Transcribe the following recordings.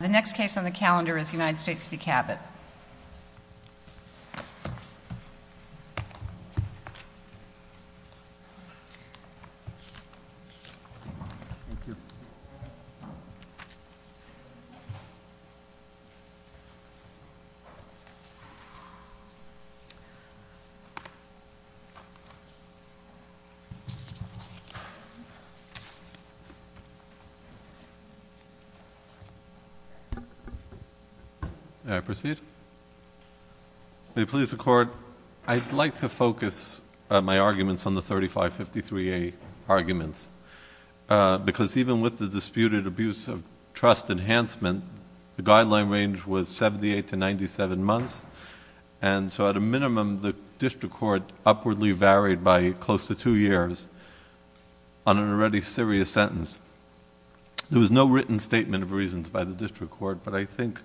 The next case on the calendar is United States v. Cabot. May I proceed? May it please the Court, I'd like to focus my arguments on the 3553A arguments, because even with the disputed abuse of trust enhancement, the guideline range was 78 to 97 months, and so at a minimum the district court upwardly varied by close to two years on an already serious sentence. There was no written statement of reasons by the district court, but I think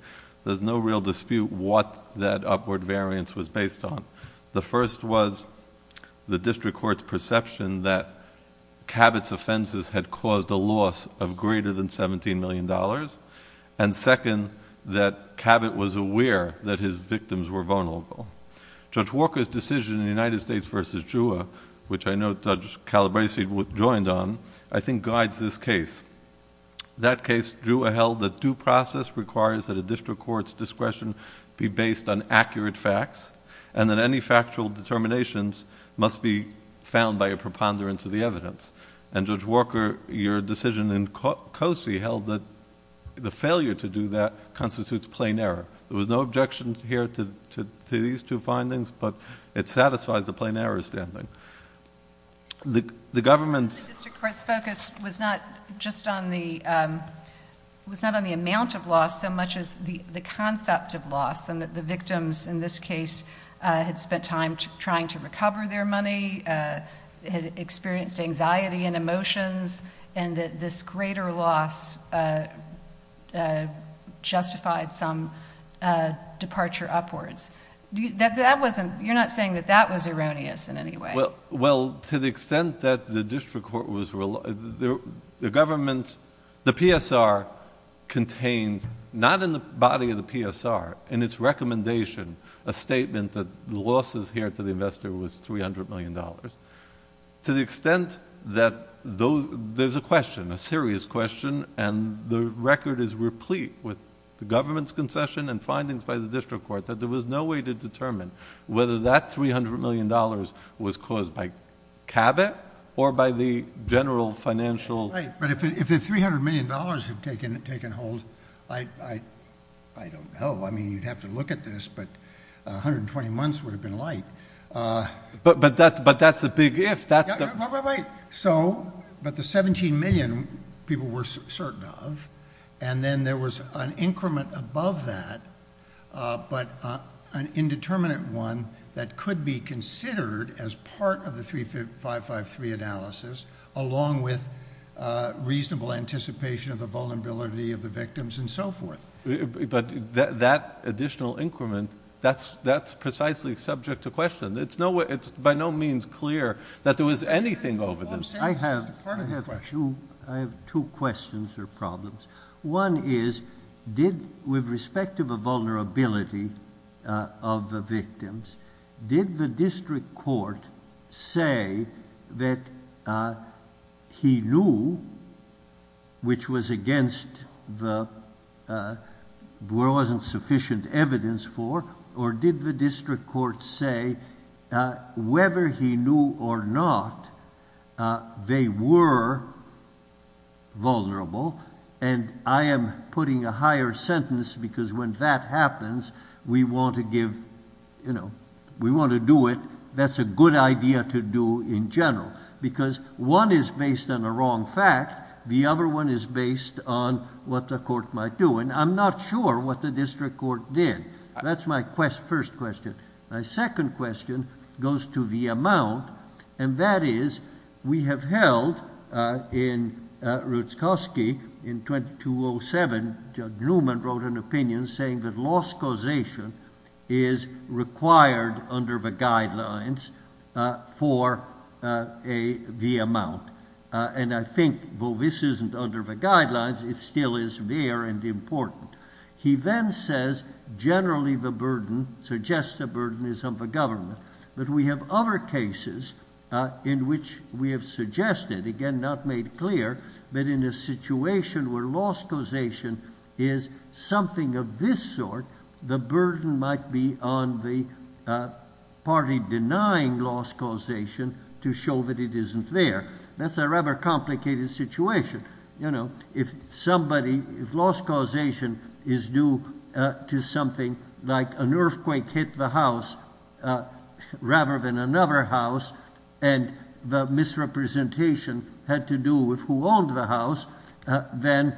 there's no real dispute what that upward variance was based on. The first was the district court's perception that Cabot's offenses had caused a loss of greater than $17 million, and second, that Cabot was aware that his victims were vulnerable. Judge Walker's decision in United States v. Juha, which I know Judge Calabresi joined on, I think guides this case. That case, Juha held that due process requires that a district court's discretion be based on accurate facts, and that any factual determinations must be found by a preponderance of the evidence. And Judge Walker, your decision in Cosey, held that the failure to do that constitutes plain error. There was no objection here to these two findings, but it satisfies the plain error standing. The government's... The district court's focus was not just on the... was not on the amount of loss so much as the concept of loss, and that the victims in this case had spent time trying to recover their money, had experienced anxiety and emotions, and that this greater loss justified some departure upwards. That wasn't... You're not saying that that was erroneous in any way. Well, to the extent that the district court was... The government's... The PSR contained, not in the body of the PSR, in its recommendation, a statement that the losses here to the investor was $300 million. To the extent that those... There's a question, a serious question, and the record is replete with the government's concession and findings by the district court that there was no way to determine whether that $300 million was caused by Cabot or by the general financial... Right, but if the $300 million had taken hold, I don't know. I mean, you'd have to look at this, but 120 months would have been like... But that's a big if. Right, but the 17 million people were certain of, and then there was an increment above that, but an indeterminate one that could be considered as part of the 3553 analysis, along with reasonable anticipation of the vulnerability of the victims and so forth. But that additional increment, that's precisely subject to question. It's by no means clear that there was anything over this. I have two questions or problems. One is, with respect to the vulnerability of the victims, did the district court say that he knew, which was against the... wasn't sufficient evidence for, or did the district court say, whether he knew or not, they were vulnerable, and I am putting a higher sentence because when that happens, we want to give... we want to do it. That's a good idea to do in general because one is based on a wrong fact. The other one is based on what the court might do, and I'm not sure what the district court did. That's my first question. My second question goes to the amount, and that is we have held in Rutzkowski in 2207, Judd Newman wrote an opinion saying that loss causation is required under the guidelines for the amount, and I think, though this isn't under the guidelines, it still is there and important. He then says generally the burden, suggests the burden is on the government, but we have other cases in which we have suggested, again not made clear, that in a situation where loss causation is something of this sort, the burden might be on the party denying loss causation to show that it isn't there. That's a rather complicated situation. If somebody, if loss causation is due to something like an earthquake hit the house rather than another house and the misrepresentation had to do with who owned the house, then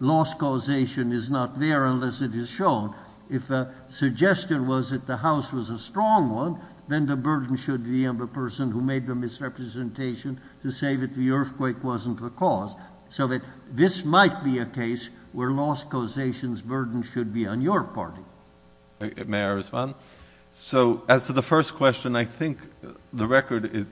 loss causation is not there unless it is shown. If the suggestion was that the house was a strong one, then the burden should be on the person who made the misrepresentation to say that the earthquake wasn't the cause, so that this might be a case where loss causation's burden should be on your party. May I respond? As to the first question, I think the record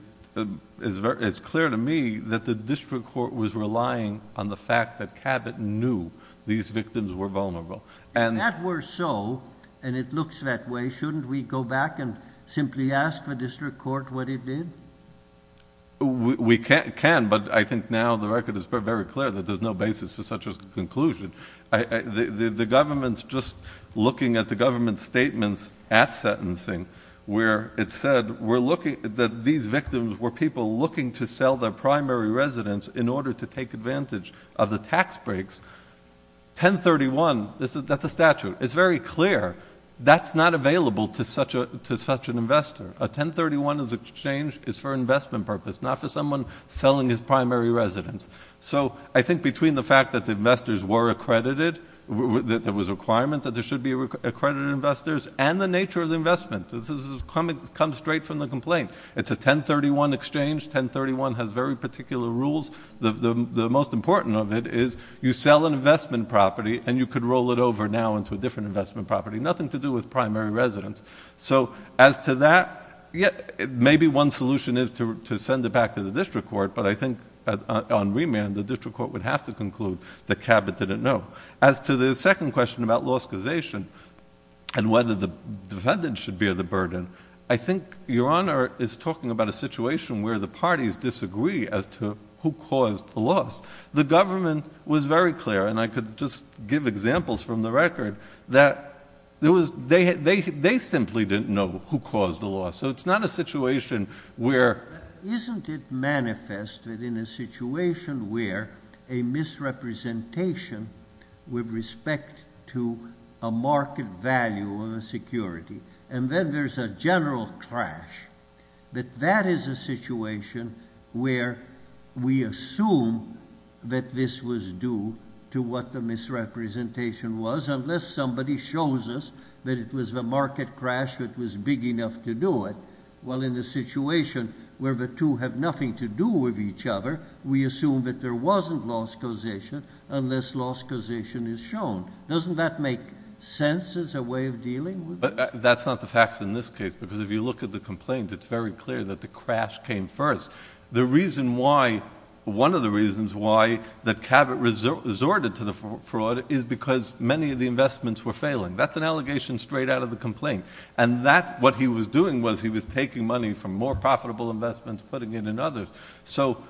is clear to me that the district court was relying on the fact that Cabot knew these victims were vulnerable. If that were so, and it looks that way, shouldn't we go back and simply ask the district court what it did? We can, but I think now the record is very clear that there's no basis for such a conclusion. The government's just looking at the government's statements at sentencing where it said that these victims were people looking to sell their primary residence in order to take advantage of the tax breaks. 1031, that's a statute. It's very clear that's not available to such an investor. A 1031 exchange is for investment purpose, not for someone selling his primary residence. So I think between the fact that the investors were accredited, that there was a requirement that there should be accredited investors, and the nature of the investment. This comes straight from the complaint. It's a 1031 exchange. 1031 has very particular rules. The most important of it is you sell an investment property and you could roll it over now into a different investment property, nothing to do with primary residence. So as to that, maybe one solution is to send it back to the district court, but I think on remand the district court would have to conclude that Cabot didn't know. As to the second question about loss causation and whether the defendant should bear the burden, I think Your Honor is talking about a situation where the parties disagree as to who caused the loss. The government was very clear, and I could just give examples from the record, that they simply didn't know who caused the loss. So it's not a situation where... Isn't it manifested in a situation where a misrepresentation with respect to a market value of a security, and then there's a general crash, that that is a situation where we assume that this was due to what the misrepresentation was unless somebody shows us that it was the market crash that was big enough to do it, while in a situation where the two have nothing to do with each other, we assume that there wasn't loss causation unless loss causation is shown. Doesn't that make sense as a way of dealing with it? But that's not the facts in this case, because if you look at the complaints, it's very clear that the crash came first. The reason why, one of the reasons why, that Cabot resorted to the fraud is because many of the investments were failing. That's an allegation straight out of the complaint. And what he was doing was he was taking money from more profitable investments, putting it in others. So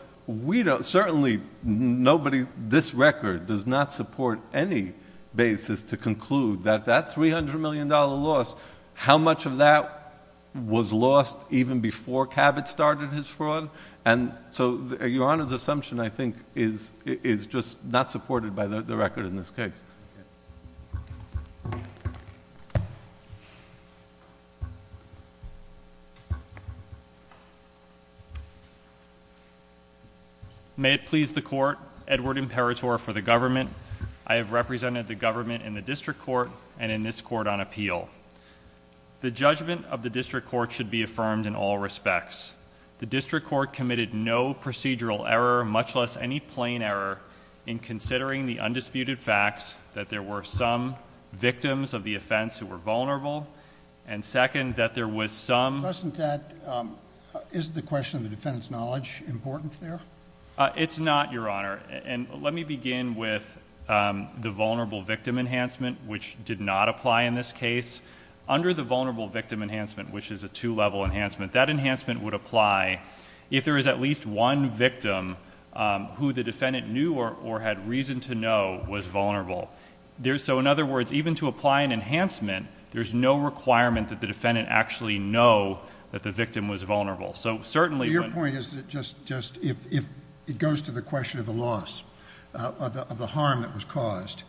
certainly this record does not support any basis to conclude that that $300 million loss, how much of that was lost even before Cabot started his fraud. And so Your Honor's assumption, I think, is just not supported by the record in this case. May it please the Court. Edward Imperatore for the government. I have represented the government in the district court and in this court on appeal. The judgment of the district court should be affirmed in all respects. The district court committed no procedural error, much less any plain error, in considering the undisputed facts that there were some victims of the offense who were vulnerable, and second, that there was some... Isn't the question of the defendant's knowledge important there? It's not, Your Honor. And let me begin with the vulnerable victim enhancement, which did not apply in this case. Under the vulnerable victim enhancement, which is a two-level enhancement, that enhancement would apply if there is at least one victim who the defendant knew or had reason to know was vulnerable. So, in other words, even to apply an enhancement, there's no requirement that the defendant actually know that the victim was vulnerable. So, certainly... Your point is that if it goes to the question of the loss, of the harm that was caused,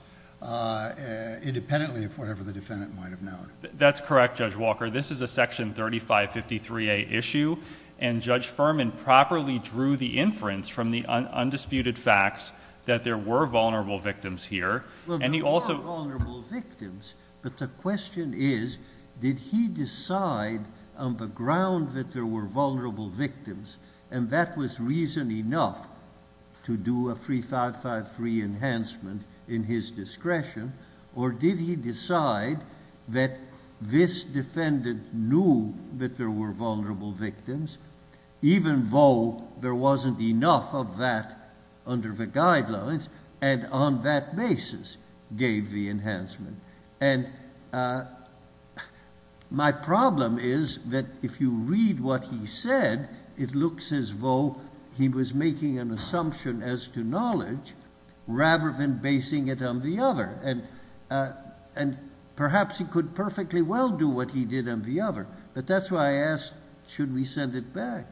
independently of whatever the defendant might have known. That's correct, Judge Walker. This is a Section 3553A issue, and Judge Furman properly drew the inference from the undisputed facts that there were vulnerable victims here, and he also... Well, there were vulnerable victims, but the question is, did he decide on the ground that there were vulnerable victims, and that was reason enough to do a 3553 enhancement in his discretion, or did he decide that this defendant knew that there were vulnerable victims, even though there wasn't enough of that under the guidelines, and on that basis gave the enhancement? And my problem is that if you read what he said, it looks as though he was making an assumption as to knowledge rather than basing it on the other, and perhaps he could perfectly well do what he did on the other, but that's why I asked, should we send it back?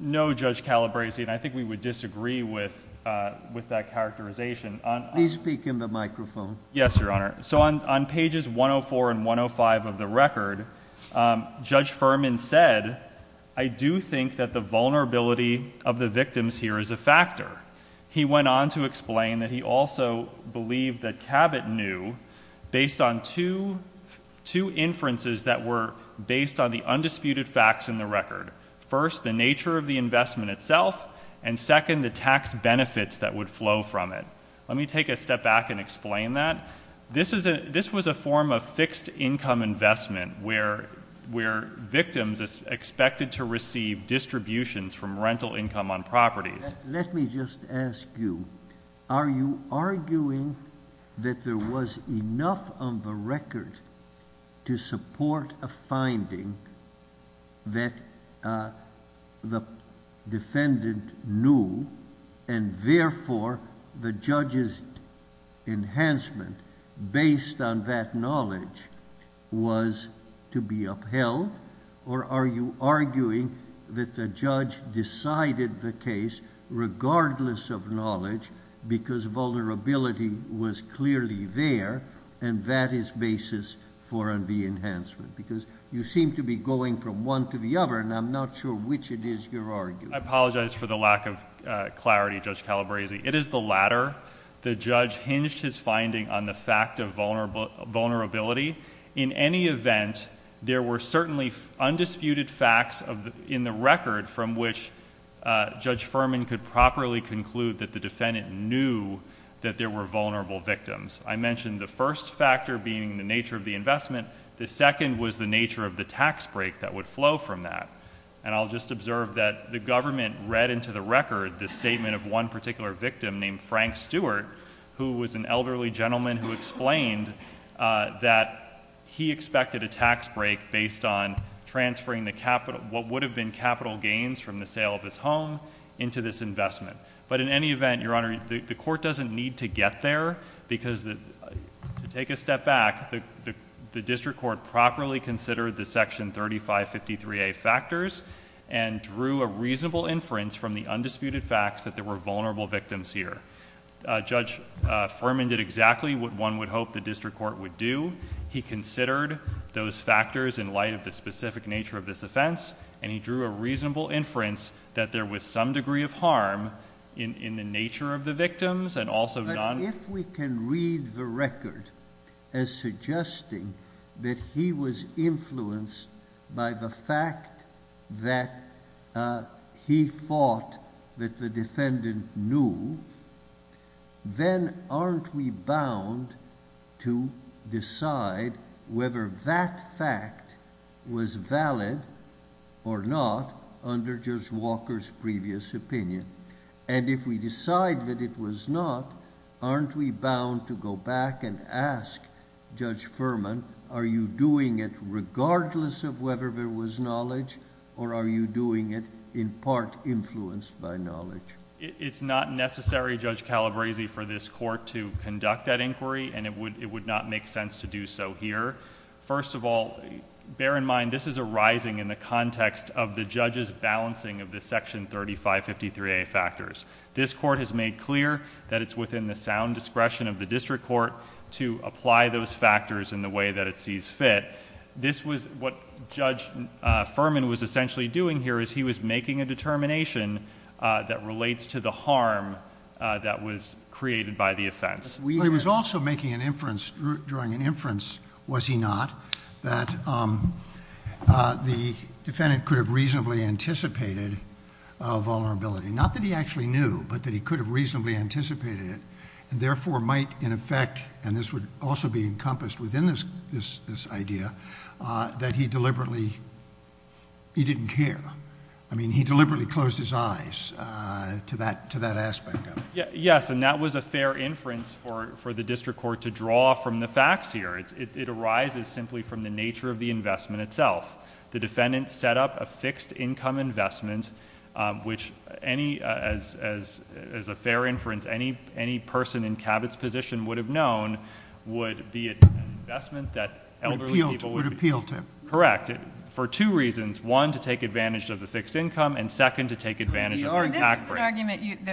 No, Judge Calabresi, and I think we would disagree with that characterization. Please speak into the microphone. Yes, Your Honor. So on pages 104 and 105 of the record, Judge Furman said, I do think that the vulnerability of the victims here is a factor. He went on to explain that he also believed that Cabot knew, based on two inferences that were based on the undisputed facts in the record. First, the nature of the investment itself, and second, the tax benefits that would flow from it. Let me take a step back and explain that. This was a form of fixed income investment where victims expected to receive distributions from rental income on properties. Let me just ask you, are you arguing that there was enough on the record to support a finding that the defendant knew, and therefore, the judge's enhancement based on that knowledge was to be upheld, or are you arguing that the judge decided the case, regardless of knowledge, because vulnerability was clearly there, and that is basis for the enhancement? Because you seem to be going from one to the other, and I'm not sure which it is you're arguing. I apologize for the lack of clarity, Judge Calabresi. It is the latter. The judge hinged his finding on the fact of vulnerability. In any event, there were certainly undisputed facts in the record from which Judge Furman could properly conclude that the defendant knew that there were vulnerable victims. I mentioned the first factor being the nature of the investment. The second was the nature of the tax break that would flow from that. I'll just observe that the government read into the record the statement of one particular victim named Frank Stewart, who was an elderly gentleman who explained that he expected a tax break based on transferring what would have been capital gains from the sale of his home into this investment. But in any event, Your Honor, the court doesn't need to get there because, to take a step back, the district court properly considered the Section 3553A factors and drew a reasonable inference from the undisputed facts that there were vulnerable victims here. Judge Furman did exactly what one would hope the district court would do. He considered those factors in light of the specific nature of this offense and he drew a reasonable inference that there was some degree of harm in the nature of the victims and also non... But if we can read the record as suggesting that he was influenced by the fact that he thought that the defendant knew, then aren't we bound to decide whether that fact was valid or not under Judge Walker's previous opinion? And if we decide that it was not, aren't we bound to go back and ask Judge Furman, are you doing it regardless of whether there was knowledge or are you doing it in part influenced by knowledge? It's not necessary, Judge Calabresi, for this court to conduct that inquiry and it would not make sense to do so here. First of all, bear in mind this is arising in the context of the judge's balancing of the Section 3553A factors. This court has made clear that it's within the sound discretion of the district court to apply those factors in the way that it sees fit. This was what Judge Furman was essentially doing here as he was making a determination that relates to the harm that was created by the offense. He was also making an inference during an inference, was he not, that the defendant could have reasonably anticipated a vulnerability. Not that he actually knew, but that he could have reasonably anticipated it and therefore might in effect, and this would also be encompassed within this idea, that he deliberately... he didn't care. I mean, he deliberately closed his eyes to that aspect of it. Yes, and that was a fair inference for the district court to draw from the facts here. It arises simply from the nature of the investment itself. The defendant set up a fixed income investment, which any... as a fair inference, any person in Cabot's position would have known would be an investment that elderly people... Would appeal to. Correct. For two reasons. One, to take advantage of the fixed income, and second, to take advantage of the tax rate. This was an argument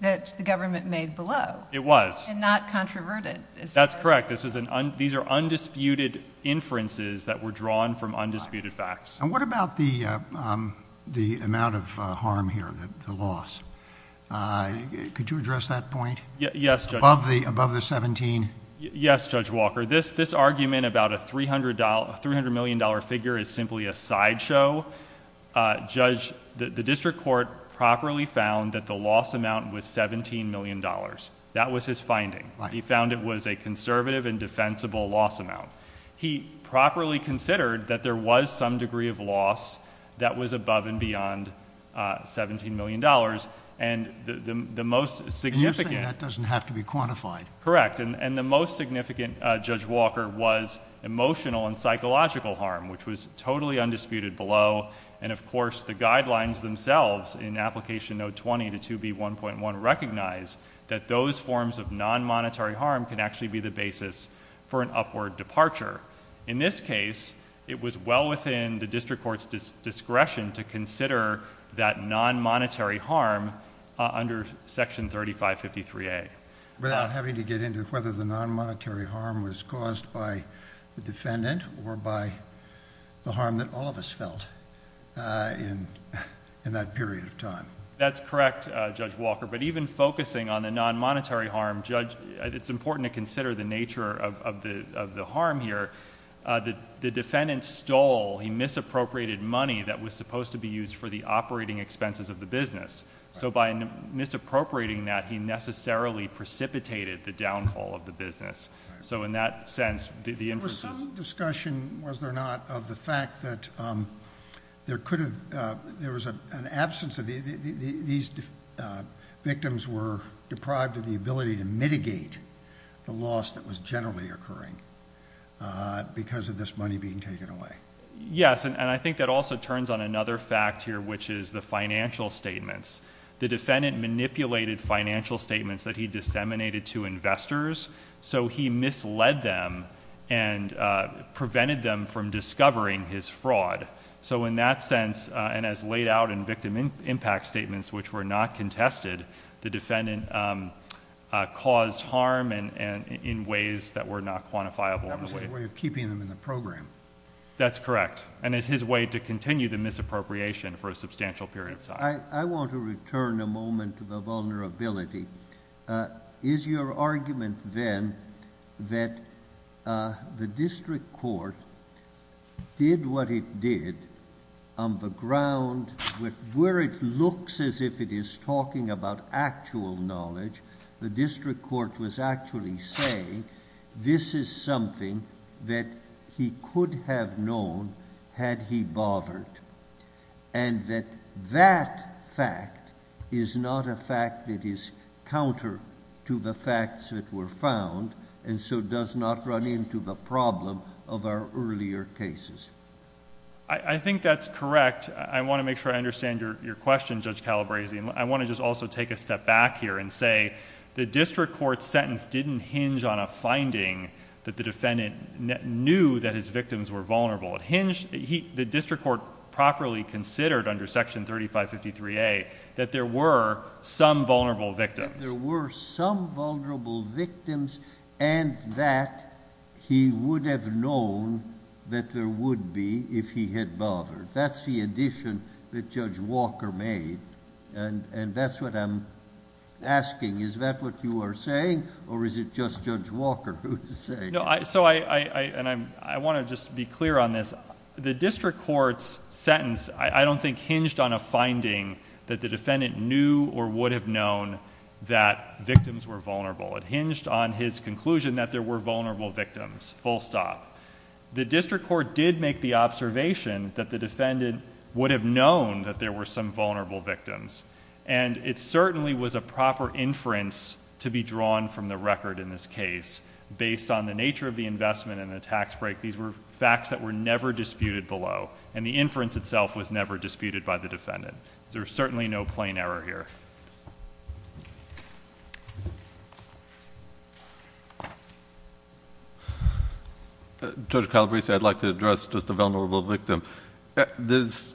that the government made below. It was. And not controverted. That's correct. These are undisputed inferences that were drawn from undisputed facts. And what about the amount of harm here, the loss? Could you address that point? Yes, Judge. Above the $17 million? Yes, Judge Walker. This argument about a $300 million figure is simply a sideshow. Judge, the district court properly found that the loss amount was $17 million. That was his finding. He found it was a conservative and defensible loss amount. He properly considered that there was some degree of loss And the most significant... You're saying that doesn't have to be quantified. Correct. And the most significant, Judge Walker, was emotional and psychological harm, which was totally undisputed below. And, of course, the guidelines themselves in Application Note 20 to 2B1.1 recognize that those forms of non-monetary harm can actually be the basis for an upward departure. In this case, it was well within the district court's discretion to consider that non-monetary harm under Section 3553A. Without having to get into whether the non-monetary harm was caused by the defendant or by the harm that all of us felt in that period of time. That's correct, Judge Walker. But even focusing on the non-monetary harm, Judge, it's important to consider the nature of the harm here. The defendant stole, he misappropriated money that was supposed to be used for the operating expenses of the business. So by misappropriating that, he necessarily precipitated the downfall of the business. So in that sense, the inferences... There was some discussion, was there not, of the fact that there could have... There was an absence of... These victims were deprived of the ability to mitigate the loss that was generally occurring because of this money being taken away. Yes, and I think that also turns on another fact here, which is the financial statements. The defendant manipulated financial statements that he disseminated to investors, so he misled them and prevented them from discovering his fraud. So in that sense, and as laid out in victim impact statements, which were not contested, the defendant caused harm in ways that were not quantifiable. That was a way of keeping them in the program. That's correct. And it's his way to continue the misappropriation for a substantial period of time. I want to return a moment to the vulnerability. Is your argument, then, that the district court did what it did on the ground... Where it looks as if it is talking about actual knowledge, the district court was actually saying this is something that he could have known had he bothered, and that that fact is not a fact that is counter to the facts that were found, and so does not run into the problem of our earlier cases? I think that's correct. I want to make sure I understand your question, Judge Calabresi. I want to just also take a step back here and say the district court's sentence didn't hinge on a finding that the defendant knew that his victims were vulnerable. It hinged... The district court properly considered under Section 3553A that there were some vulnerable victims. There were some vulnerable victims and that he would have known that there would be if he had bothered. That's the addition that Judge Walker made, and that's what I'm asking. Is that what you are saying, or is it just Judge Walker who is saying it? I want to just be clear on this. The district court's sentence, I don't think, hinged on a finding that the defendant knew or would have known that victims were vulnerable. It hinged on his conclusion that there were vulnerable victims, full stop. The district court did make the observation that the defendant would have known that there were some vulnerable victims. It certainly was a proper inference to be drawn from the record in this case. Based on the nature of the investment and the tax break, these were facts that were never disputed below, and the inference itself was never disputed by the defendant. There's certainly no plain error here. Judge Calabresi, I'd like to address just the vulnerable victim. There's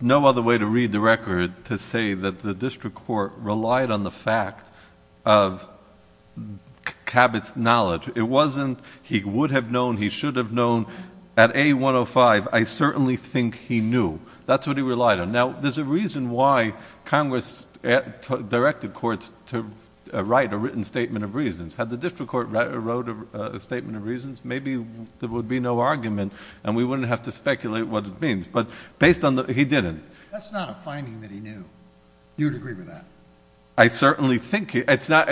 no other way to read the record to say that the district court relied on the fact of Cabot's knowledge. It wasn't he would have known, he should have known. At A105, I certainly think he knew. That's what he relied on. Now, there's a reason why Congress, directed courts to write a written statement of reasons. Had the district court wrote a statement of reasons, maybe there would be no argument, and we wouldn't have to speculate what it means. But based on the, he didn't. That's not a finding that he knew. You would agree with that? I certainly think he, it's not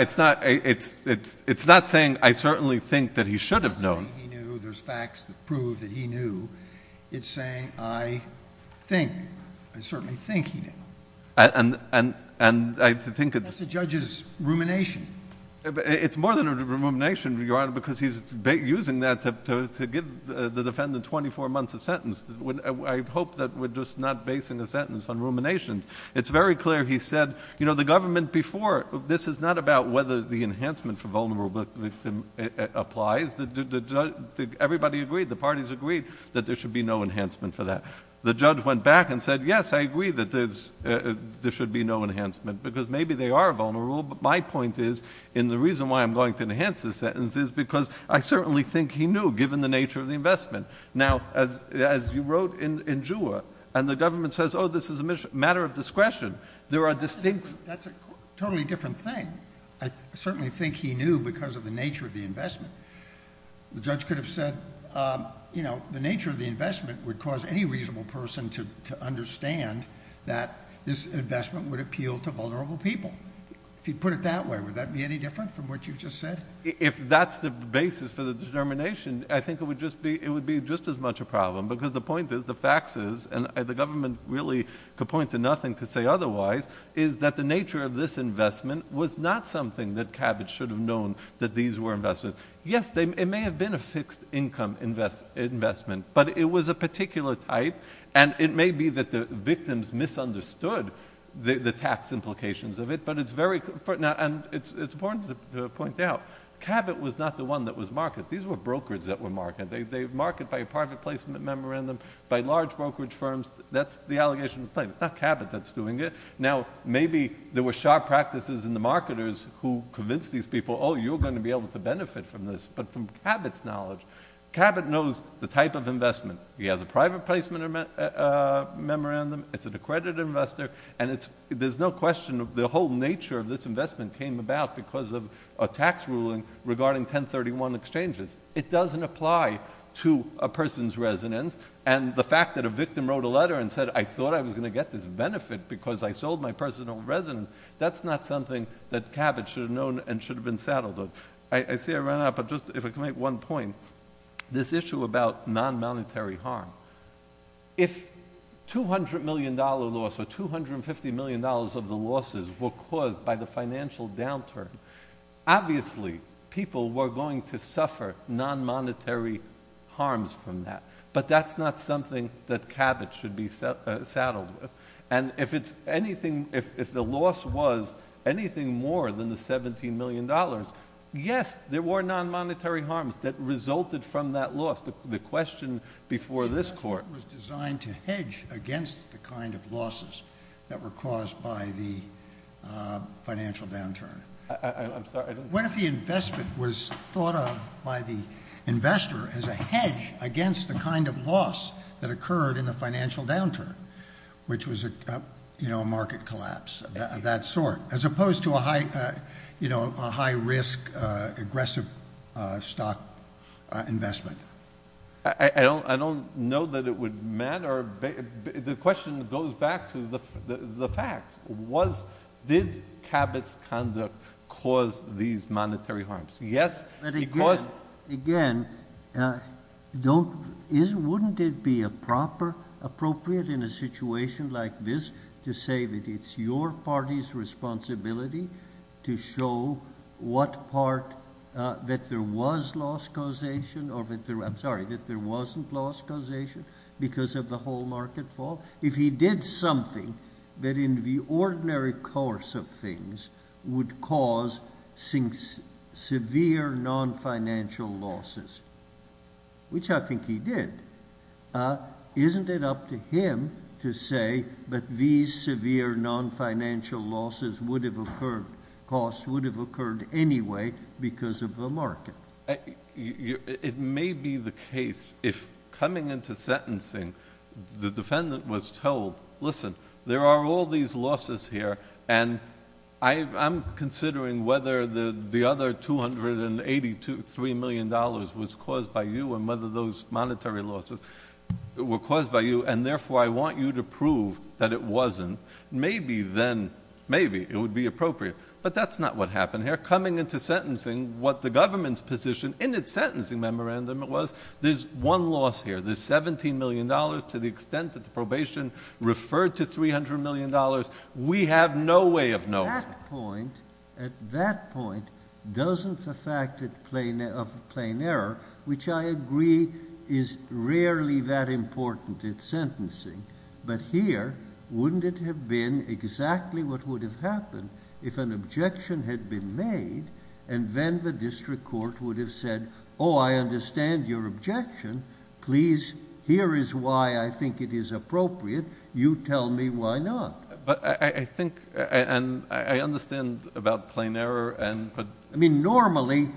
saying I certainly think that he should have known. There's facts that prove that he knew. It's saying I think, I certainly think he knew. And I think it's... That's the judge's rumination. It's more than a rumination, Your Honor, because he's using that to give the defendant 24 months of sentence. I hope that we're just not basing a sentence on ruminations. It's very clear he said, you know, the government before, this is not about whether the enhancement for vulnerable applies. Everybody agreed, the parties agreed, that there should be no enhancement for that. The judge went back and said, yes, I agree that there should be no enhancement because maybe they are vulnerable. But my point is, and the reason why I'm going to enhance this sentence is because I certainly think he knew, given the nature of the investment. Now, as you wrote in Juha, and the government says, oh, this is a matter of discretion, there are distinct... That's a totally different thing. I certainly think he knew because of the nature of the investment. The judge could have said, you know, the nature of the investment would cause any reasonable person to understand that this investment would appeal to vulnerable people. If you put it that way, would that be any different from what you've just said? If that's the basis for the determination, I think it would be just as much a problem because the point is, the facts is, and the government really could point to nothing to say otherwise, is that the nature of this investment was not something that Cabot should have known that these were investments. Yes, it may have been a fixed income investment, but it was a particular type, and it may be that the victims misunderstood the tax implications of it, but it's very... And it's important to point out, Cabot was not the one that was marketed. These were brokers that were marketed. They market by private placement memorandum, by large brokerage firms. That's the allegation in plain. It's not Cabot that's doing it. Now, maybe there were sharp practices in the marketers who convinced these people, oh, you're going to be able to benefit from this. But from Cabot's knowledge, Cabot knows the type of investment. He has a private placement memorandum, it's an accredited investor, and there's no question the whole nature of this investment came about because of a tax ruling regarding 1031 exchanges. It doesn't apply to a person's residence, and the fact that a victim wrote a letter and said, I thought I was going to get this benefit because I sold my personal residence, that's not something that Cabot should have known and should have been saddled with. I see I ran out, but just if I can make one point, this issue about non-monetary harm. If $200 million loss or $250 million of the losses were caused by the financial downturn, obviously people were going to suffer non-monetary harms from that, but that's not something that Cabot should be saddled with. And if the loss was anything more than the $17 million, yes, there were non-monetary harms that resulted from that loss, the question before this Court. The investment was designed to hedge against the kind of losses that were caused by the financial downturn. I'm sorry. What if the investment was thought of by the investor as a hedge against the kind of loss that occurred in the financial downturn, which was a market collapse of that sort, as opposed to a high-risk, aggressive stock investment? I don't know that it would matter. The question goes back to the facts. Did Cabot's conduct cause these monetary harms? Yes. Again, wouldn't it be appropriate in a situation like this to say that it's your party's responsibility to show what part that there was loss causation or, I'm sorry, that there wasn't loss causation because of the whole market fall? If he did something that in the ordinary course of things would cause severe non-financial losses, which I think he did, isn't it up to him to say that these severe non-financial losses would have occurred, costs would have occurred anyway because of the market? It may be the case if coming into sentencing the defendant was told, listen, there are all these losses here and I'm considering whether the other $283 million was caused by you and whether those monetary losses were caused by you, and therefore I want you to prove that it wasn't. Maybe then it would be appropriate, but that's not what happened here. Coming into sentencing, what the government's position in its sentencing memorandum was, there's one loss here, the $17 million to the extent that the probation referred to $300 million. We have no way of knowing. At that point, doesn't the fact of plain error, which I agree is rarely that important in sentencing, but here wouldn't it have been exactly what would have happened if an objection had been made and then the district court would have said, oh, I understand your objection. Please, here is why I think it is appropriate. You tell me why not. But I think and I understand about plain error. I mean, normally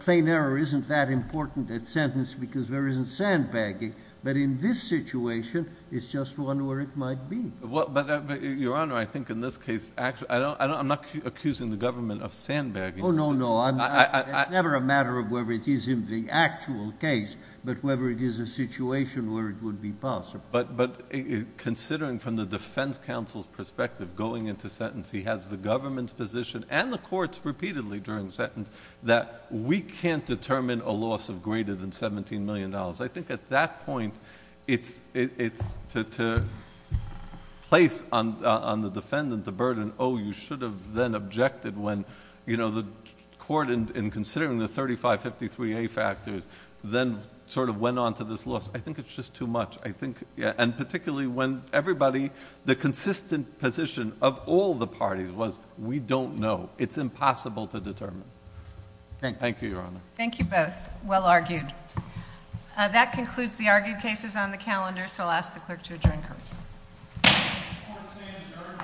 plain error isn't that important at sentence because there isn't sandbagging, but in this situation, it's just one where it might be. Your Honor, I think in this case, I'm not accusing the government of sandbagging. Oh, no, no. It's never a matter of whether it is in the actual case, but whether it is a situation where it would be possible. But considering from the defense counsel's perspective going into sentence, he has the government's position and the court's repeatedly during sentence that we can't determine a loss of greater than $17 million. I think at that point, it's to place on the defendant the burden, oh, you should have then objected when the court in considering the 3553A factors then sort of went on to this loss. I think it's just too much. And particularly when everybody, the consistent position of all the parties was we don't know. It's impossible to determine. Thank you, Your Honor. Thank you both. Well argued. That concludes the argued cases on the calendar, so I'll ask the clerk to adjourn. Court is adjourned.